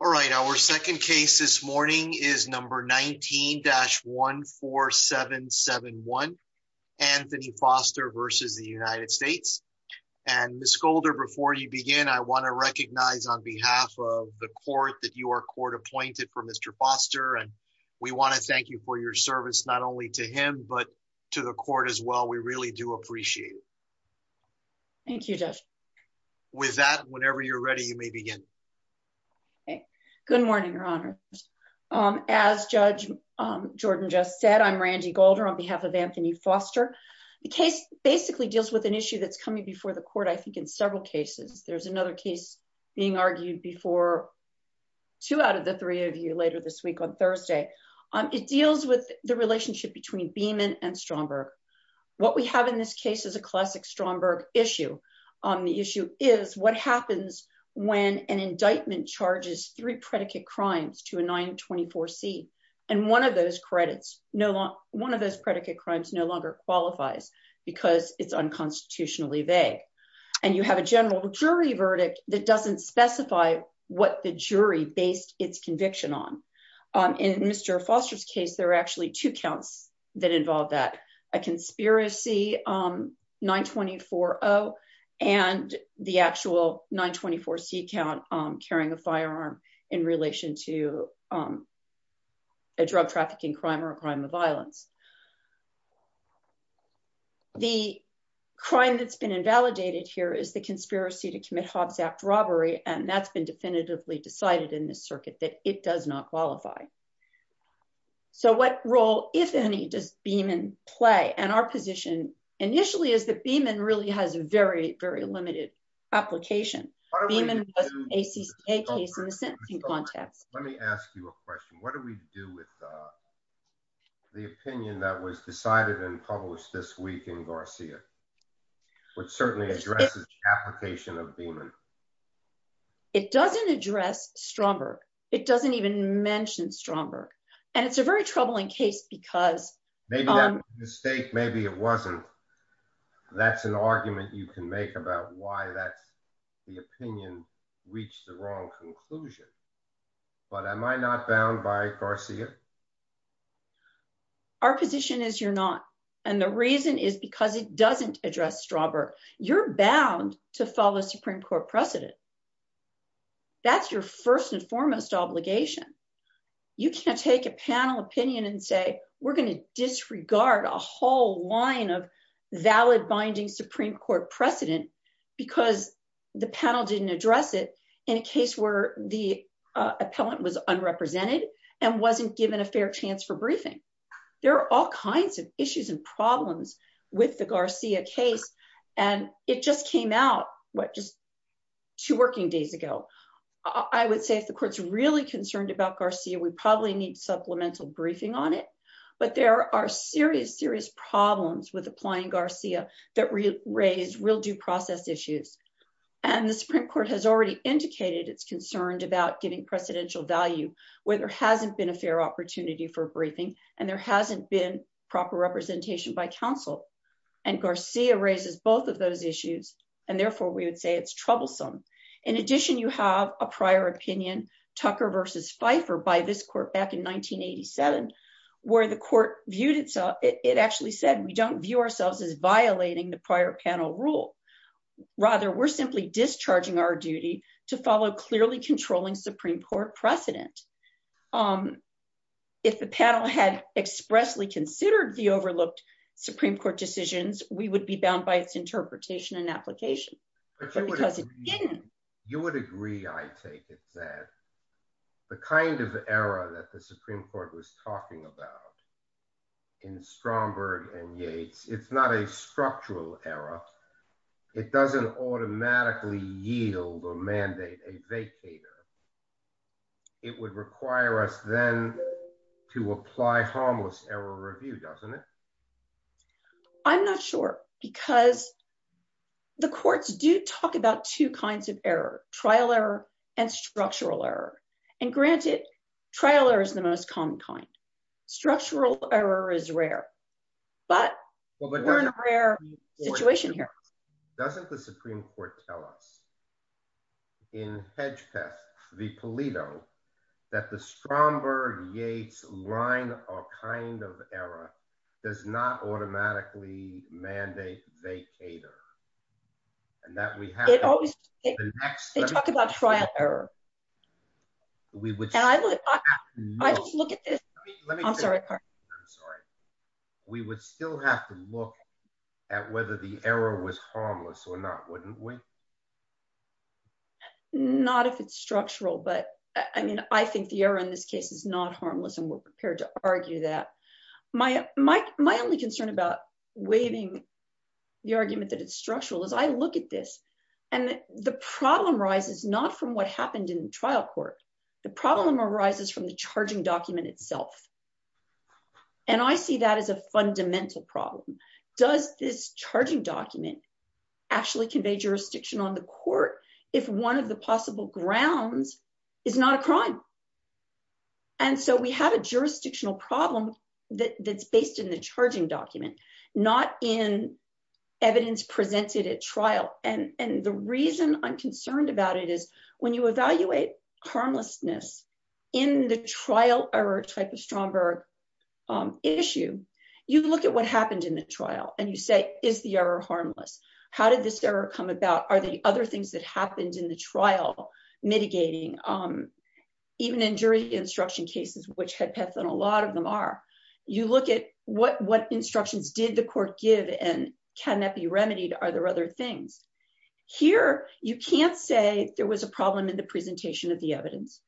All right, our second case this morning is number 19-14771, Anthony Foster versus the United States. And Ms. Golder, before you begin, I want to recognize on behalf of the court that you are court appointed for Mr. Foster. And we want to thank you for your service, not only to him, but to the court as well. We really do appreciate it. Thank you, Jeff. With that, whenever you're ready, you may begin. Good morning, Your Honor. As Judge Jordan just said, I'm Randi Golder on behalf of Anthony Foster. The case basically deals with an issue that's coming before the court, I think, in several cases. There's another case being argued before two out of the three of you later this week on Thursday. It deals with the relationship between Beeman and Stromberg. What we have in this case is a classic Stromberg issue. The issue is what happens when an indictment charges three predicate crimes to a 924C. And one of those credits, one of those predicate crimes no longer qualifies because it's unconstitutionally vague. And you have a general jury verdict that doesn't specify what the jury based its conviction on. In Mr. Foster's case, there are actually two counts that involve that, a conspiracy 924O and the actual 924C count carrying a firearm in relation to a drug trafficking crime or a crime of violence. The crime that's been invalidated here is the conspiracy to commit Hobbs Act robbery, and that's been definitively decided in this circuit that it does not qualify. So what role, if any, does Beeman play? And our position initially is that Beeman really has a very, very limited application. Beeman was an ACCA case in the sentencing context. Let me ask you a question. What do we do with the opinion that was decided and published this week in Garcia, which certainly addresses the application of Beeman? It doesn't address Stromberg. It doesn't even mention Stromberg. And it's a very troubling case because- Maybe that was a mistake, maybe it wasn't. That's an argument you can make about why that's the opinion reached the wrong conclusion. But am I not bound by Garcia? Our position is you're not. And the reason is because it doesn't address Stromberg. You're bound to follow Supreme Court precedent. That's your first and foremost obligation. You can't take a panel opinion and say, we're going to disregard a whole line of valid binding Supreme Court precedent because the panel didn't address it in a case where the appellant was unrepresented and wasn't given a fair chance for briefing. There are all kinds of issues and problems with the Garcia case. And it just came out just two working days ago. I would say if the court's really concerned about Garcia, we probably need supplemental briefing on it. But there are serious, serious problems with applying Garcia that raise real due process issues. And the Supreme Court has already indicated it's concerned about getting precedential value where there hasn't been a fair opportunity for briefing. And there hasn't been proper representation by counsel. And Garcia raises both of those issues. And therefore, we would say it's troublesome. In addition, you have a prior opinion, Tucker versus Pfeiffer by this court back in 1987, where the court viewed itself, it actually said, we don't view ourselves as violating the prior panel rule. Rather, we're simply discharging our duty to follow clearly controlling Supreme Court precedent. If the panel had expressly considered the overlooked Supreme Court decisions, we would be bound by its interpretation and application. But because it didn't. You would agree, I take it that the kind of era that the Supreme Court was talking about in Stromberg and Yates, it's not a structural era. It doesn't automatically yield or mandate a vacator. It would require us then to apply harmless error review, doesn't it? I'm not sure, because the courts do talk about two kinds of error, trial error, and structural error. And granted, trailer is the most common kind. Structural error is rare. But we're in a rare situation here. Doesn't the Supreme Court tell us in Hedgepeth v. Pulido, that the Stromberg-Yates line of kind of error does not automatically mandate vacator? And that we have... They talk about trial error. We would still have to look at whether the error was harmless or not, wouldn't we? Not if it's structural, but I mean, I think the error in this case is not harmless and we're prepared to argue that. My only concern about waiving the argument that it's structural is I trial court, the problem arises from the charging document itself. And I see that as a fundamental problem. Does this charging document actually convey jurisdiction on the court if one of the possible grounds is not a crime? And so we have a jurisdictional problem that's based in the charging document, not in evidence presented at trial. And the reason I'm concerned about it is when you evaluate harmlessness in the trial error type of Stromberg issue, you look at what happened in the trial and you say, is the error harmless? How did this error come about? Are the other things that happened in the trial mitigating? Even in jury instruction cases, which Hedgepeth and a lot of them are, you look at what instructions did the court give and can that be remedied? Are there other things here? You can't say there was a problem in the presentation of the evidence.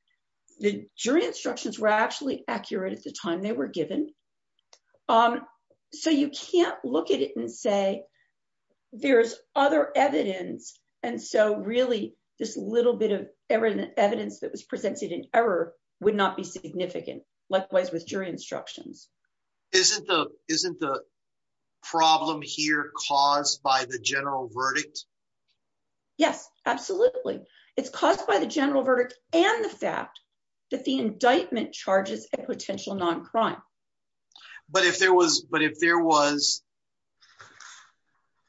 The jury instructions were actually accurate at the time they were given. So you can't look at it and say there's other evidence. And so really this little bit of evidence that was presented in error would not be significant. Likewise, with jury instructions. Isn't the problem here caused by the general verdict? Yes, absolutely. It's caused by the general verdict and the fact that the indictment charges a potential non-crime. But if there was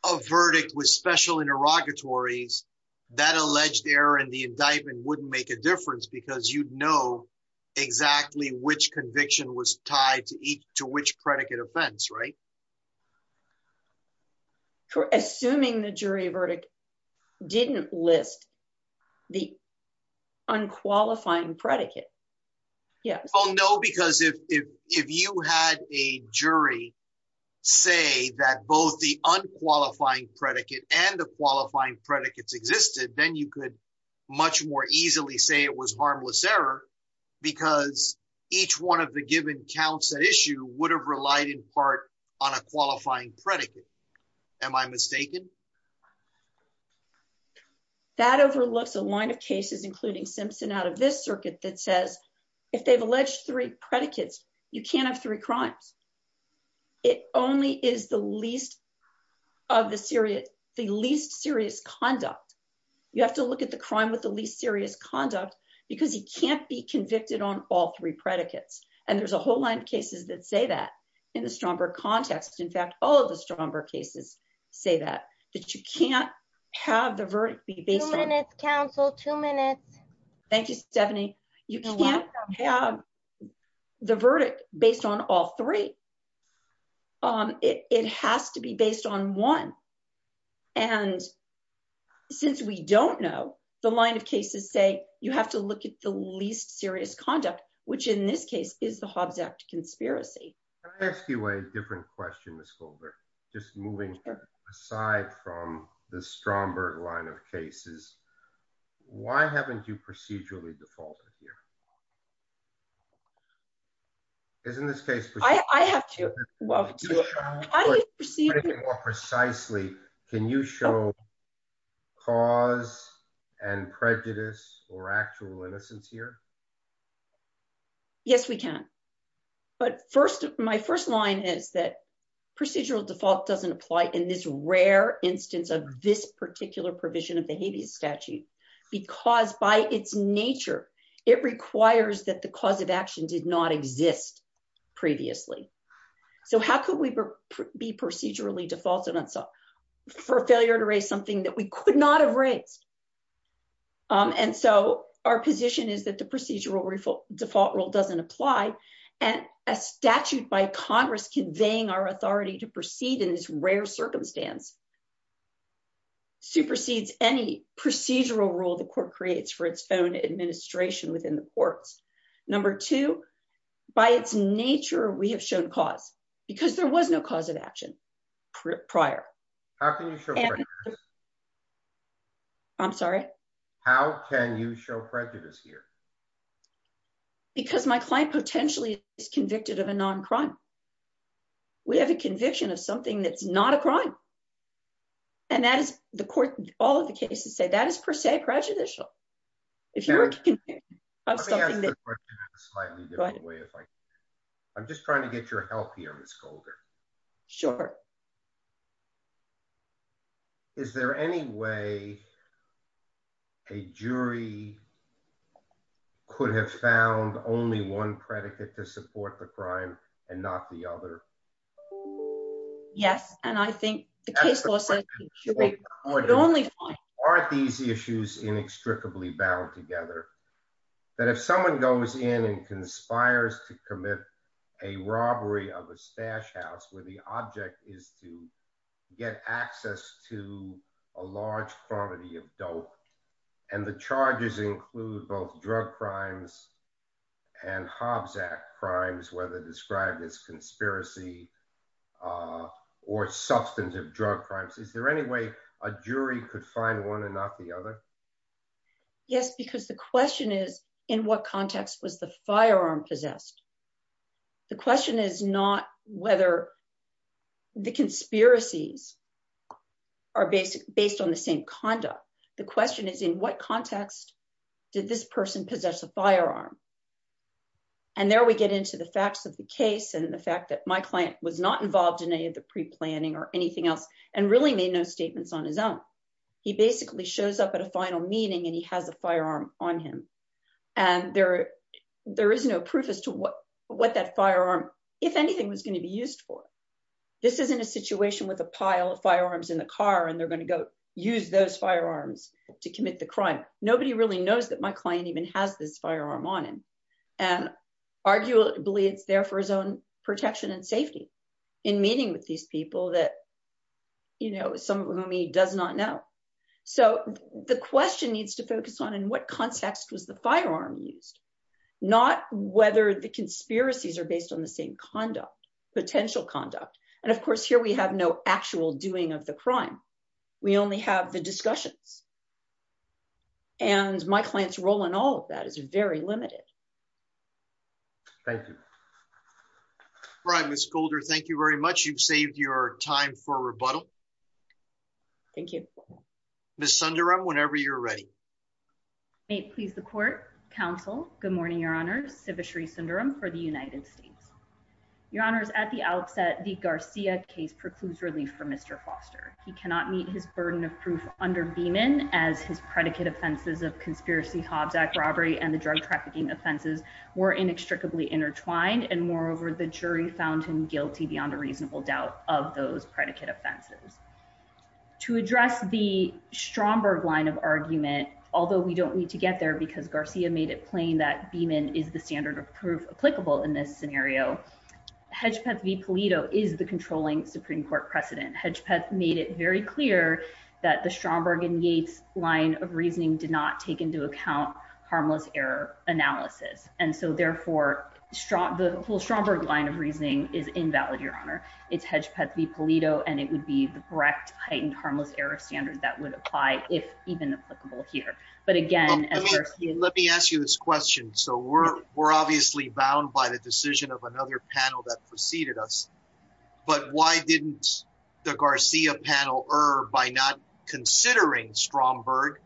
a verdict with special interrogatories, that alleged error in the indictment wouldn't make a difference because you'd know exactly which conviction was tied to which predicate offense, right? Assuming the jury verdict didn't list the unqualifying predicate, yes. Oh no, because if you had a jury say that both the unqualifying predicate and the each one of the given counts at issue would have relied in part on a qualifying predicate. Am I mistaken? That overlooks a line of cases including Simpson out of this circuit that says if they've alleged three predicates, you can't have three crimes. It only is the least serious conduct. You have to look at the crime with the least serious conduct because you can't be convicted on all three predicates. And there's a whole line of cases that say that in the Stromberg context. In fact, all of the Stromberg cases say that, that you can't have the verdict be based on- Two minutes, counsel, two minutes. Thank you, Stephanie. You can't have the verdict based on all three. It has to be based on one. And since we don't know, the line of cases say you have to look at the least serious conduct, which in this case is the Hobbs Act conspiracy. Can I ask you a different question, Ms. Goldberg? Just moving aside from the Stromberg line of cases, why haven't you procedurally defaulted here? Isn't this case- I have to- Procedurally or precisely, can you show cause and prejudice or actual innocence here? Yes, we can. But my first line is that procedural default doesn't apply in this rare instance of this particular provision of the habeas statute because by its nature, it requires that the cause of action did not exist previously. So how could we be procedurally defaulted for failure to raise something that we could not have raised? And so our position is that the procedural default rule doesn't apply. And a statute by Congress conveying our authority to proceed in this rare circumstance supersedes any procedural rule the court creates for its own administration within the courts. Number two, by its nature, we have shown cause because there was no cause of action prior. How can you show prejudice? I'm sorry? How can you show prejudice here? Because my client potentially is convicted of a non-crime. We have a conviction of something that's not a crime. And that is the court- all of the cases say that is per se prejudicial. Let me ask the question in a slightly different way. I'm just trying to get your help here, Ms. Golder. Sure. Is there any way a jury could have found only one predicate to support the crime and not the other? Yes, and I think the case law says the jury could only find- Aren't these issues inextricably bound together? That if someone goes in and conspires to commit a robbery of a stash house where the object is to get access to a large quantity of dope, and the charges include both drug crimes and Hobbs Act crimes, whether described as conspiracy or substantive drug crimes, is there any way a jury could find one and not the other? Yes, because the question is, in what context was the firearm possessed? The question is not whether the conspiracies are based on the same conduct. The question is, in what context did this person possess a firearm? And there we get into the facts of the case and the fact that my client was not involved in any of the pre-planning or anything else and really made no statements on his own. He basically shows up at a final meeting and he has a firearm on him. And there is no proof as to what that firearm, if anything, was going to be used for. This isn't a situation with a pile of firearms in the car and they're going to go use those firearms to commit the crime. Nobody really knows that my client even has this firearm on him. And arguably, it's there for his own protection and safety in meeting with these people that, you know, some of whom he does not know. So the question needs to focus on, in what context was the firearm used? Not whether the conspiracies are based on the same conduct, potential conduct. And of course, here we have no actual doing of the crime. We only have the discussions. And my client's role in all of that is very limited. Thank you. All right, Ms. Golder, thank you very much. You've saved your time for rebuttal. Thank you. Ms. Sundaram, whenever you're ready. May it please the court, counsel. Good morning, Your Honor. Sivashree Sundaram for the United States. Your Honor, at the outset, the Garcia case precludes relief for Mr. Foster. He cannot meet his burden of proof under Beeman, as his predicate offenses of conspiracy, Hobbs Act robbery, and the drug trafficking offenses were inextricably intertwined. And moreover, the jury found him guilty beyond a reasonable doubt of those predicate offenses. To address the Stromberg line of argument, although we don't need to get there, because Garcia made it plain that Beeman is the standard of proof applicable in this scenario. Hedgepeth v. Pulido is the controlling Supreme Court precedent. Hedgepeth made it very clear that the Stromberg and Yates line of reasoning did not take into account harmless error analysis. And so, therefore, the whole Stromberg line of reasoning is invalid, Your Honor. It's Hedgepeth v. Pulido, and it would be the correct heightened harmless error standard that would apply if even applicable here. But again- Let me ask you this question. So we're obviously bound by the decision of another panel that preceded us. But why didn't the Garcia panel err by not considering Stromberg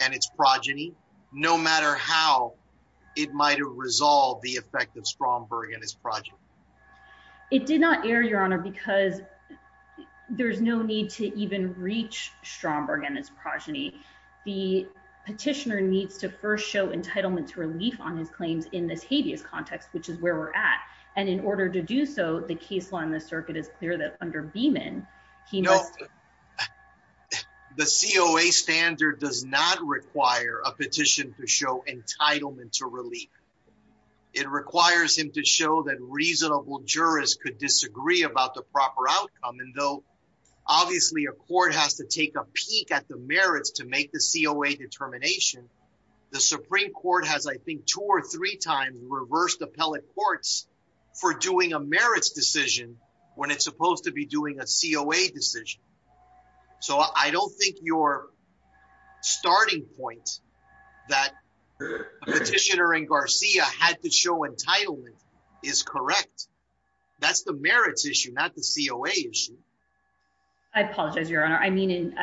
and its progeny, no matter how it might have resolved the effect of Stromberg and his progeny? It did not err, Your Honor, because there's no need to even reach Stromberg and his progeny. The petitioner needs to first show entitlement to relief on his claims in this habeas context, which is where we're at. And in order to do so, the case law in the circuit is clear that under Beeman, he must- No. The COA standard does not require a petition to show entitlement to relief. It requires him to show that reasonable jurists could disagree about the proper outcome. And though, obviously, a court has to take a peek at the merits to make the COA determination, the Supreme Court has, I think, two or three times reversed appellate courts for doing a merits decision when it's supposed to be doing a COA decision. So I don't think your starting point that the petitioner and Garcia had to show entitlement is correct. That's the merits issue, not the COA issue. I apologize, Your Honor. I mean,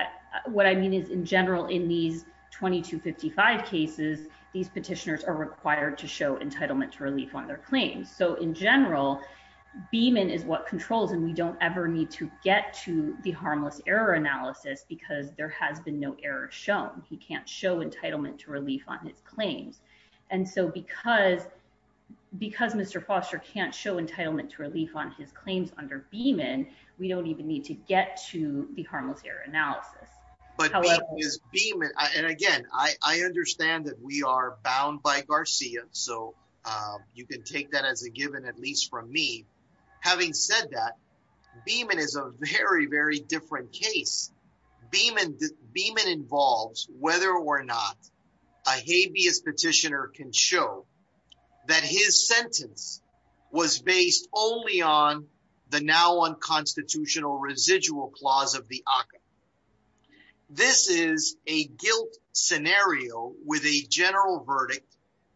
what I mean is, in general, in these 2255 cases, these petitioners are required to show entitlement to relief on their claims. So in general, Beeman is what controls and we don't ever need to get to the harmless error analysis because there has been no error shown. He can't show entitlement to relief on his claims. And so because Mr. Foster can't show entitlement to relief on his claims under Beeman, we don't even need to get to the harmless error analysis. And again, I understand that we are bound by Garcia. So you can take that as a given, at least from me. Having said that, Beeman is a very, very different case. Beeman involves whether or not a habeas petitioner can show that his sentence was based only on the now unconstitutional residual clause of the ACA. This is a guilt scenario with a general verdict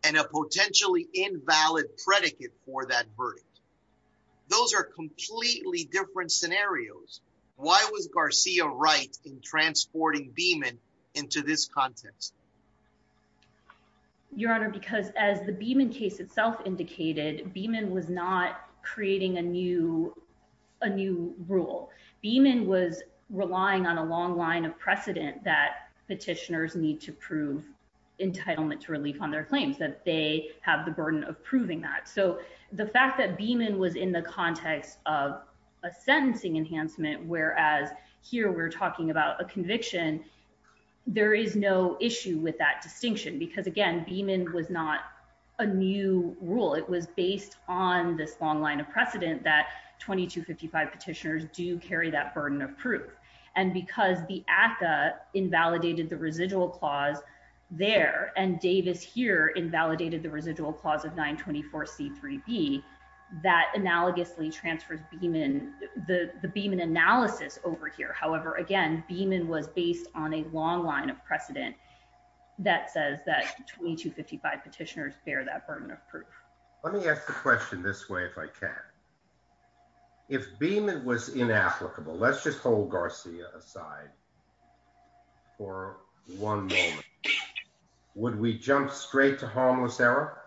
and a potentially invalid predicate for that verdict. Those are completely different scenarios. Why was Garcia right in transporting Beeman into this context? Your Honor, because as the Beeman case itself indicated, Beeman was not creating a new rule. Beeman was relying on a long line of precedent that petitioners need to prove entitlement to relief on their claims, that they have the burden of proving that. So the fact that Beeman was in the context of a sentencing enhancement, whereas here we're talking about a conviction, there is no issue with that distinction. Because again, Beeman was not a new rule. It was based on this long line of precedent that 2255 petitioners do carry that burden of proof. And because the ACA invalidated the residual clause there, and Davis here invalidated the residual clause of 924C3B, that analogously transfers the Beeman analysis over here. However, again, Beeman was based on a long line of precedent that says that 2255 petitioners bear that burden of proof. Let me ask the question this way, if I can. If Beeman was inapplicable, let's just hold Garcia aside for one moment, would we jump straight to harmless error?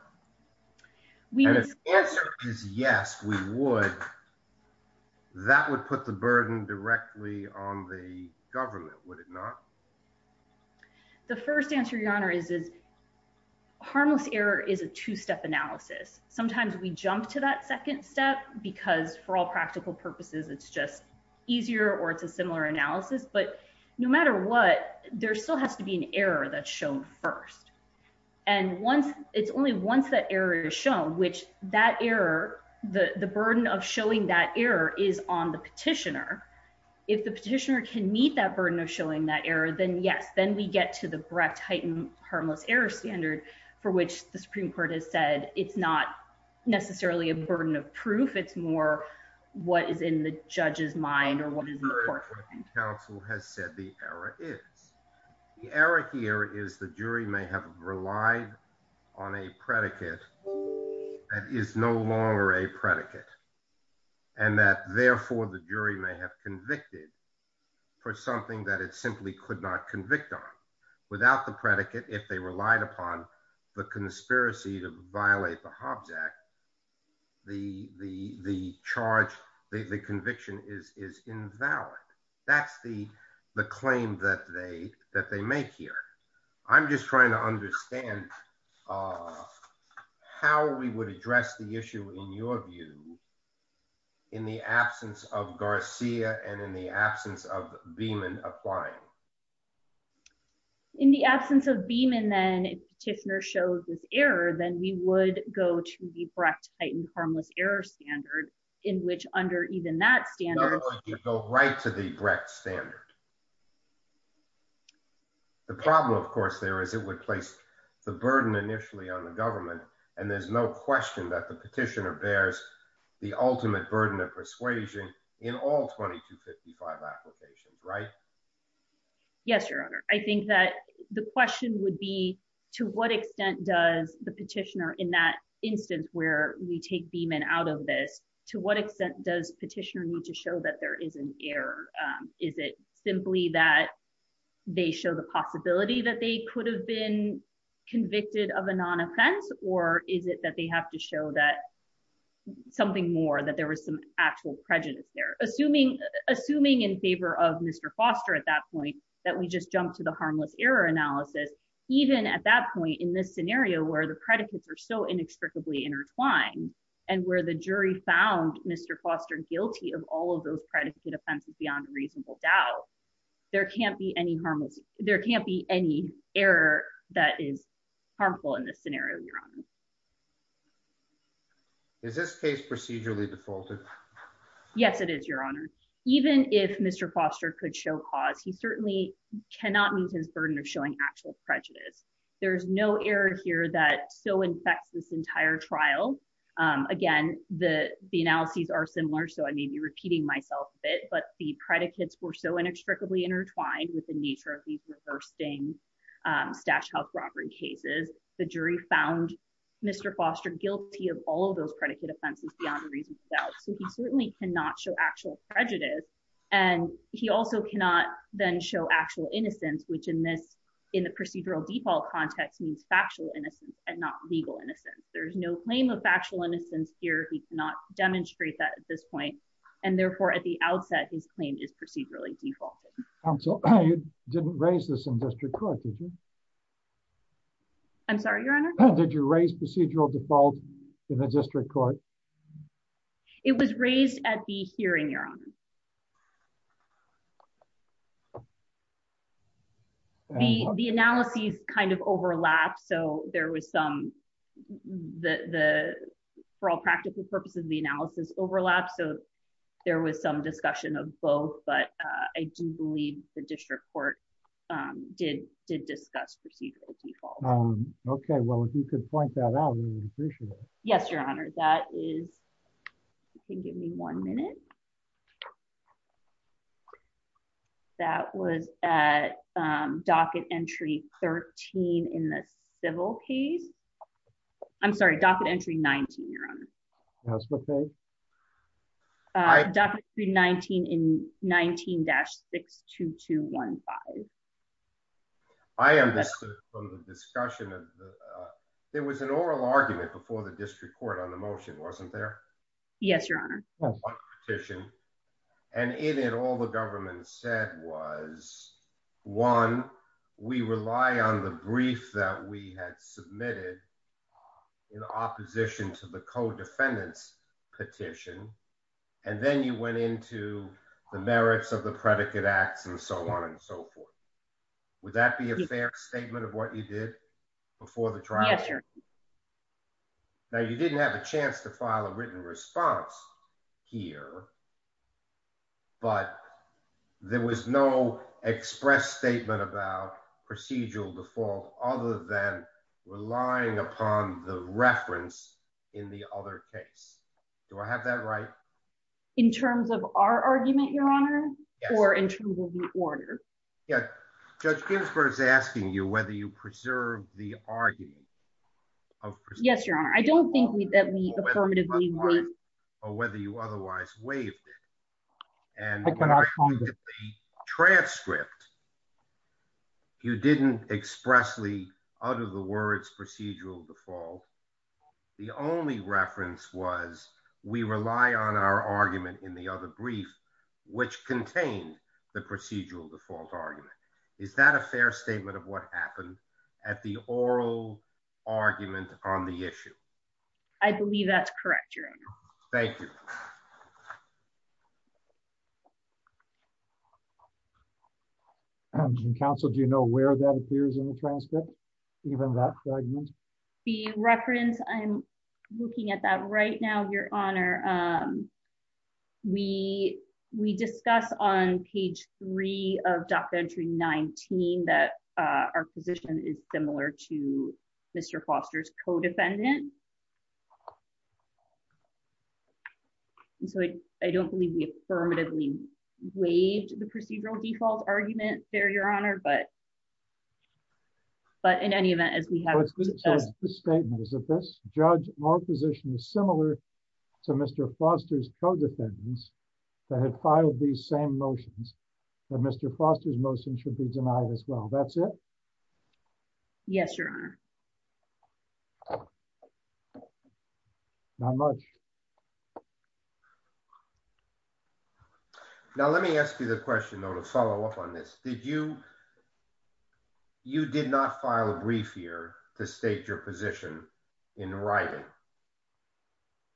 And if the answer is yes, we would, that would put the burden directly on the government, would it not? The first answer, Your Honor, is harmless error is a two-step analysis. Sometimes we jump to that second step, because for all practical purposes, it's just easier or it's a similar analysis. But no matter what, there still has to be an error that's shown first. And it's only once that error is shown, which that error, the burden of showing that error is on the petitioner. If the petitioner can meet that burden of showing that error, then yes, then we get to the Brecht-Hyten harmless error standard for which the Supreme Court has said it's not necessarily a burden of proof. It's more what is in the judge's mind or what is in the court's mind. The error here is the jury may have relied on a predicate that is no longer a predicate. And that, therefore, the jury may have convicted for something that it simply could not convict on. Without the predicate, if they relied upon the conspiracy to violate the Hobbs Act, the charge, the conviction is invalid. That's the claim that they make here. I'm just trying to understand how we would address the issue, in your view, in the absence of Garcia and in the absence of Beeman applying. In the absence of Beeman, then, if the petitioner shows this error, then we would go to the Brecht-Hyten harmless error standard in which under even that standard— right to the Brecht standard. The problem, of course, there is it would place the burden initially on the government, and there's no question that the petitioner bears the ultimate burden of persuasion in all 2255 applications, right? Yes, Your Honor. I think that the question would be, to what extent does the petitioner, in that instance where we take Beeman out of this, to what extent does the petitioner need to show that there is an error? Is it simply that they show the possibility that they could have been convicted of a non-offense, or is it that they have to show that something more, that there was some actual prejudice there? Assuming in favor of Mr. Foster at that point that we just jumped to the harmless error analysis, even at that point in this scenario where the predicates are so inextricably intertwined, and where the jury found Mr. Foster guilty of all of those predicate offenses beyond reasonable doubt, there can't be any harmless— there can't be any error that is harmful in this scenario, Your Honor. Is this case procedurally defaulted? Yes, it is, Your Honor. Even if Mr. Foster could show cause, he certainly cannot meet his burden of showing actual prejudice. There's no error here that so infects this entire trial. Again, the analyses are similar, so I may be repeating myself a bit, but the predicates were so inextricably intertwined with the nature of these reversing stash-health-robbery cases, the jury found Mr. Foster guilty of all of those predicate offenses beyond reasonable doubt. So he certainly cannot show actual prejudice, and he also cannot then show actual innocence, which in the procedural default context means factual innocence and not legal innocence. There's no claim of factual innocence here. He cannot demonstrate that at this point, and therefore at the outset, his claim is procedurally defaulted. Counsel, you didn't raise this in district court, did you? I'm sorry, Your Honor? Did you raise procedural default in the district court? It was raised at the hearing, Your Honor. The analyses kind of overlapped. So there was some, for all practical purposes, the analysis overlapped. So there was some discussion of both, but I do believe the district court did discuss procedural default. Okay. Well, if you could point that out, I would appreciate it. Yes, Your Honor. That is, if you can give me one minute. That was at docket entry 13 in the civil case. I'm sorry, docket entry 19, Your Honor. That's okay. Docket entry 19 in 19-62215. I understood from the discussion that there was an oral argument before the district court on the motion, wasn't there? Yes, Your Honor. On one petition. And in it, all the government said was, one, we rely on the brief that we had submitted in opposition to the co-defendants petition. And then you went into the merits of the predicate acts and so on and so forth. Would that be a fair statement of what you did before the trial? Yes, Your Honor. Now, you didn't have a chance to file a written response here, but there was no express statement about procedural default other than relying upon the reference in the other case. Do I have that right? In terms of our argument, Your Honor, or in terms of the order? Yes. Judge Ginsburg is asking you whether you preserve the argument. Of course. Yes, Your Honor. I don't think that we affirmatively. Or whether you otherwise waived it. And the transcript, you didn't expressly utter the words procedural default. The only reference was we rely on our argument in the other brief, which contained the procedural default argument. Is that a fair statement of what happened at the oral argument on the issue? I believe that's correct, Your Honor. Thank you. Counsel, do you know where that appears in the transcript? The reference, I'm looking at that right now, Your Honor. We discuss on page three of Doctrine 19 that our position is similar to Mr. Foster's co-defendant. And so I don't believe we affirmatively waived the procedural default argument there, Your Honor. But in any event, as we have discussed. The statement is that this judge, our position is similar to Mr. Foster's co-defendants that had filed these same motions that Mr. Foster's motion should be denied as well. That's it? Yes, Your Honor. Not much. Now, let me ask you the question, though, to follow up on this. You did not file a brief here to state your position in writing?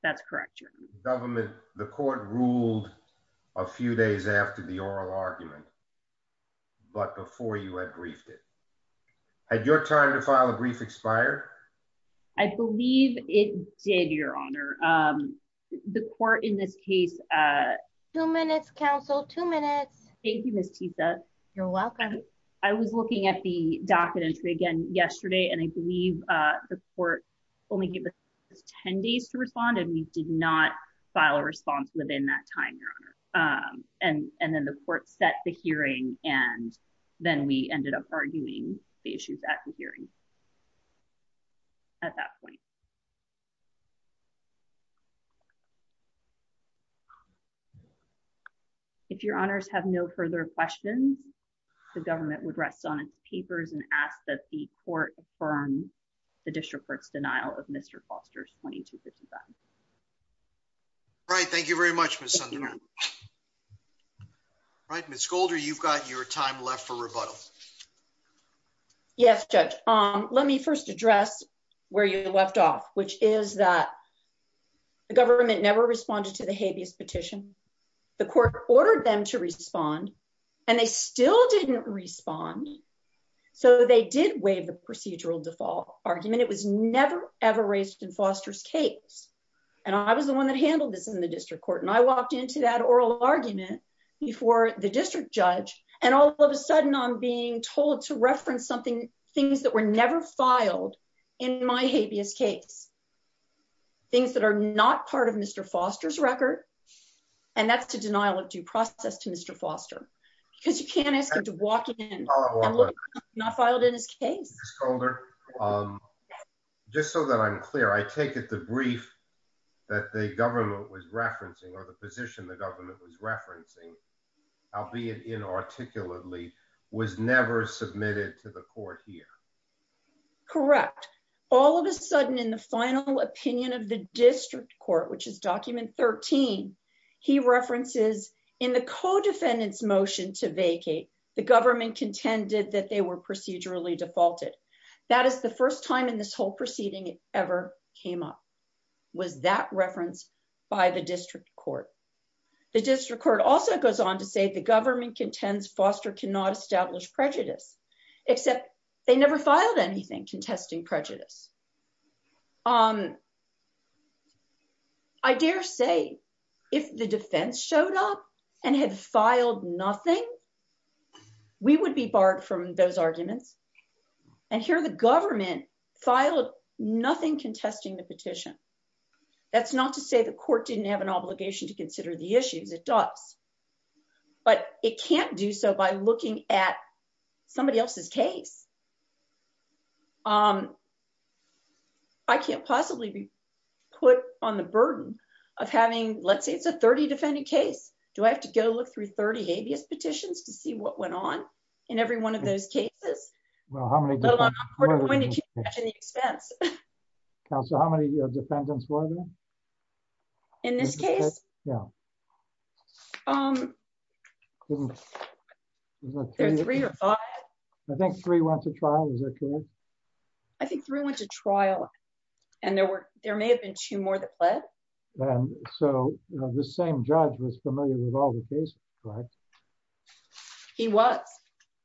That's correct, Your Honor. Government, the court ruled a few days after the oral argument, but before you had briefed it. Had your time to file a brief expired? I believe it did, Your Honor. The court in this case. Two minutes, counsel, two minutes. Thank you, Ms. Titha. You're welcome. I was looking at the docket entry again yesterday, and I believe the court only gave us 10 days to respond, and we did not file a response within that time, Your Honor. And then the court set the hearing, and then we ended up arguing the issues at the hearing. At that point. If Your Honors have no further questions, the government would rest on its papers and ask that the court affirm the district court's denial of Mr. Foster's 2255. Right. Thank you very much, Ms. Sunderman. Right. Ms. Golder, you've got your time left for rebuttal. Yes, Judge. Um, let me first address where you left off. Which is that the government never responded to the habeas petition. The court ordered them to respond, and they still didn't respond. So they did waive the procedural default argument. It was never, ever raised in Foster's case. And I was the one that handled this in the district court. And I walked into that oral argument before the district judge. And all of a sudden, I'm being told to reference something, that were never filed in my habeas case. Things that are not part of Mr. Foster's record. And that's the denial of due process to Mr. Foster. Because you can't ask him to walk in and look at something not filed in his case. Ms. Golder, just so that I'm clear, I take it the brief that the government was referencing, or the position the government was referencing, albeit inarticulately, was never submitted to the court here. Correct. All of a sudden, in the final opinion of the district court, which is document 13, he references, in the co-defendant's motion to vacate, the government contended that they were procedurally defaulted. That is the first time in this whole proceeding it ever came up, was that reference by the district court. The district court also goes on to say, the government contends Foster cannot establish prejudice. Except they never filed anything contesting prejudice. I dare say, if the defense showed up and had filed nothing, we would be barred from those arguments. And here the government filed nothing contesting the petition. That's not to say the court didn't have an obligation to consider the issues, it does. But it can't do so by looking at somebody else's case. I can't possibly be put on the burden of having, let's say it's a 30 defendant case. Do I have to go look through 30 habeas petitions to see what went on in every one of those cases? Well, how many defendants were there? How many defendants were there? In this case? Yeah. I think three went to trial. I think three went to trial. And there may have been two more that pled. So the same judge was familiar with all the cases, right? He was.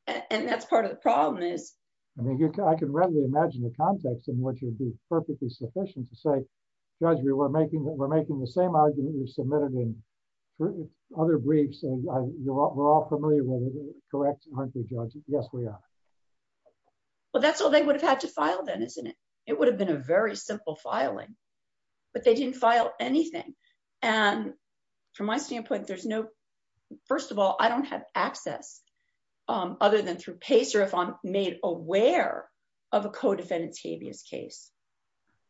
And that's part of the problem is. I can readily imagine the context in which would be perfectly sufficient to say, Judge, we're making the same argument you submitted in other briefs. We're all familiar with it, correct, aren't we, Judge? Yes, we are. Well, that's all they would have had to file then, isn't it? It would have been a very simple filing. But they didn't file anything. And from my standpoint, there's no. First of all, I don't have access other than through PACER if I'm made aware of a co-defendant's habeas case.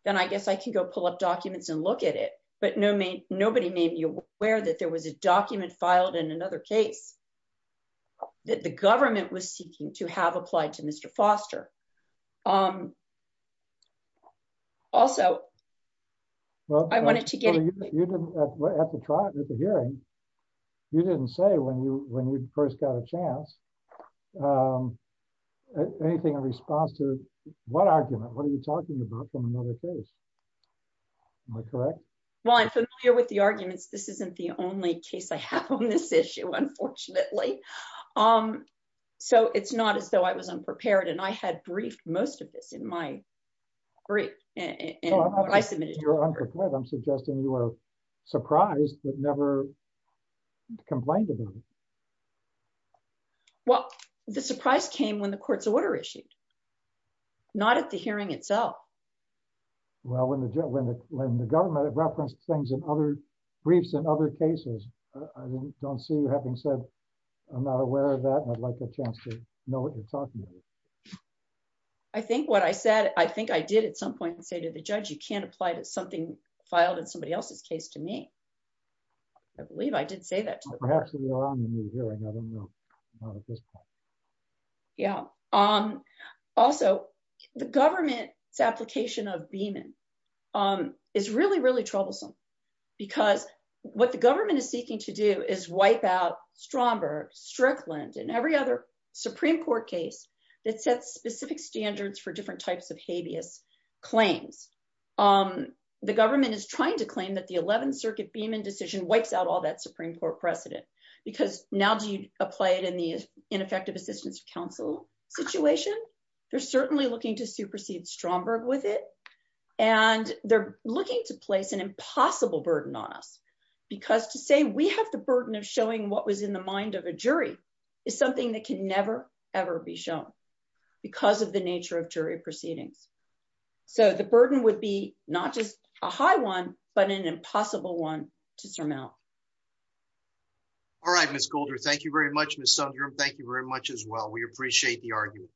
Then I guess I can go pull up documents and look at it. But nobody made me aware that there was a document filed in another case that the government was seeking to have applied to Mr. Foster. Also, I wanted to get. At the hearing, you didn't say when you first got a chance, anything in response to what argument? What are you talking about from another case? Am I correct? Well, I'm familiar with the arguments. This isn't the only case I have on this issue, unfortunately. So it's not as though I was unprepared. And I had briefed most of this in my brief. Well, I'm not saying you were unprepared. I'm suggesting you were surprised but never complained about it. Well, the surprise came when the court's order issued. Not at the hearing itself. Well, when the government referenced things in other briefs in other cases, don't see you having said, I'm not aware of that. I'd like a chance to know what you're talking about. I think what I said, I think I did at some point say to the judge, you can't apply to something filed in somebody else's case to me. I believe I did say that. Well, perhaps it was around the new hearing. I don't know. Not at this point. Yeah. Also, the government's application of Beaman is really, really troublesome. Because what the government is seeking to do is wipe out Stromberg, Strickland, and every other Supreme Court case that sets specific standards for different types of habeas claims. The government is trying to claim that the 11th Circuit Beaman decision wipes out all that Supreme Court precedent. Because now do you apply it in the ineffective assistance of counsel situation? They're certainly looking to supersede Stromberg with it. And they're looking to place an impossible burden on us. Because to say we have the burden of showing what was in the mind of a jury is something that can never, ever be shown because of the nature of jury proceedings. So the burden would be not just a high one, but an impossible one to surmount. All right, Ms. Golder. Thank you very much, Ms. Sundrum. Thank you very much as well. We appreciate the argument.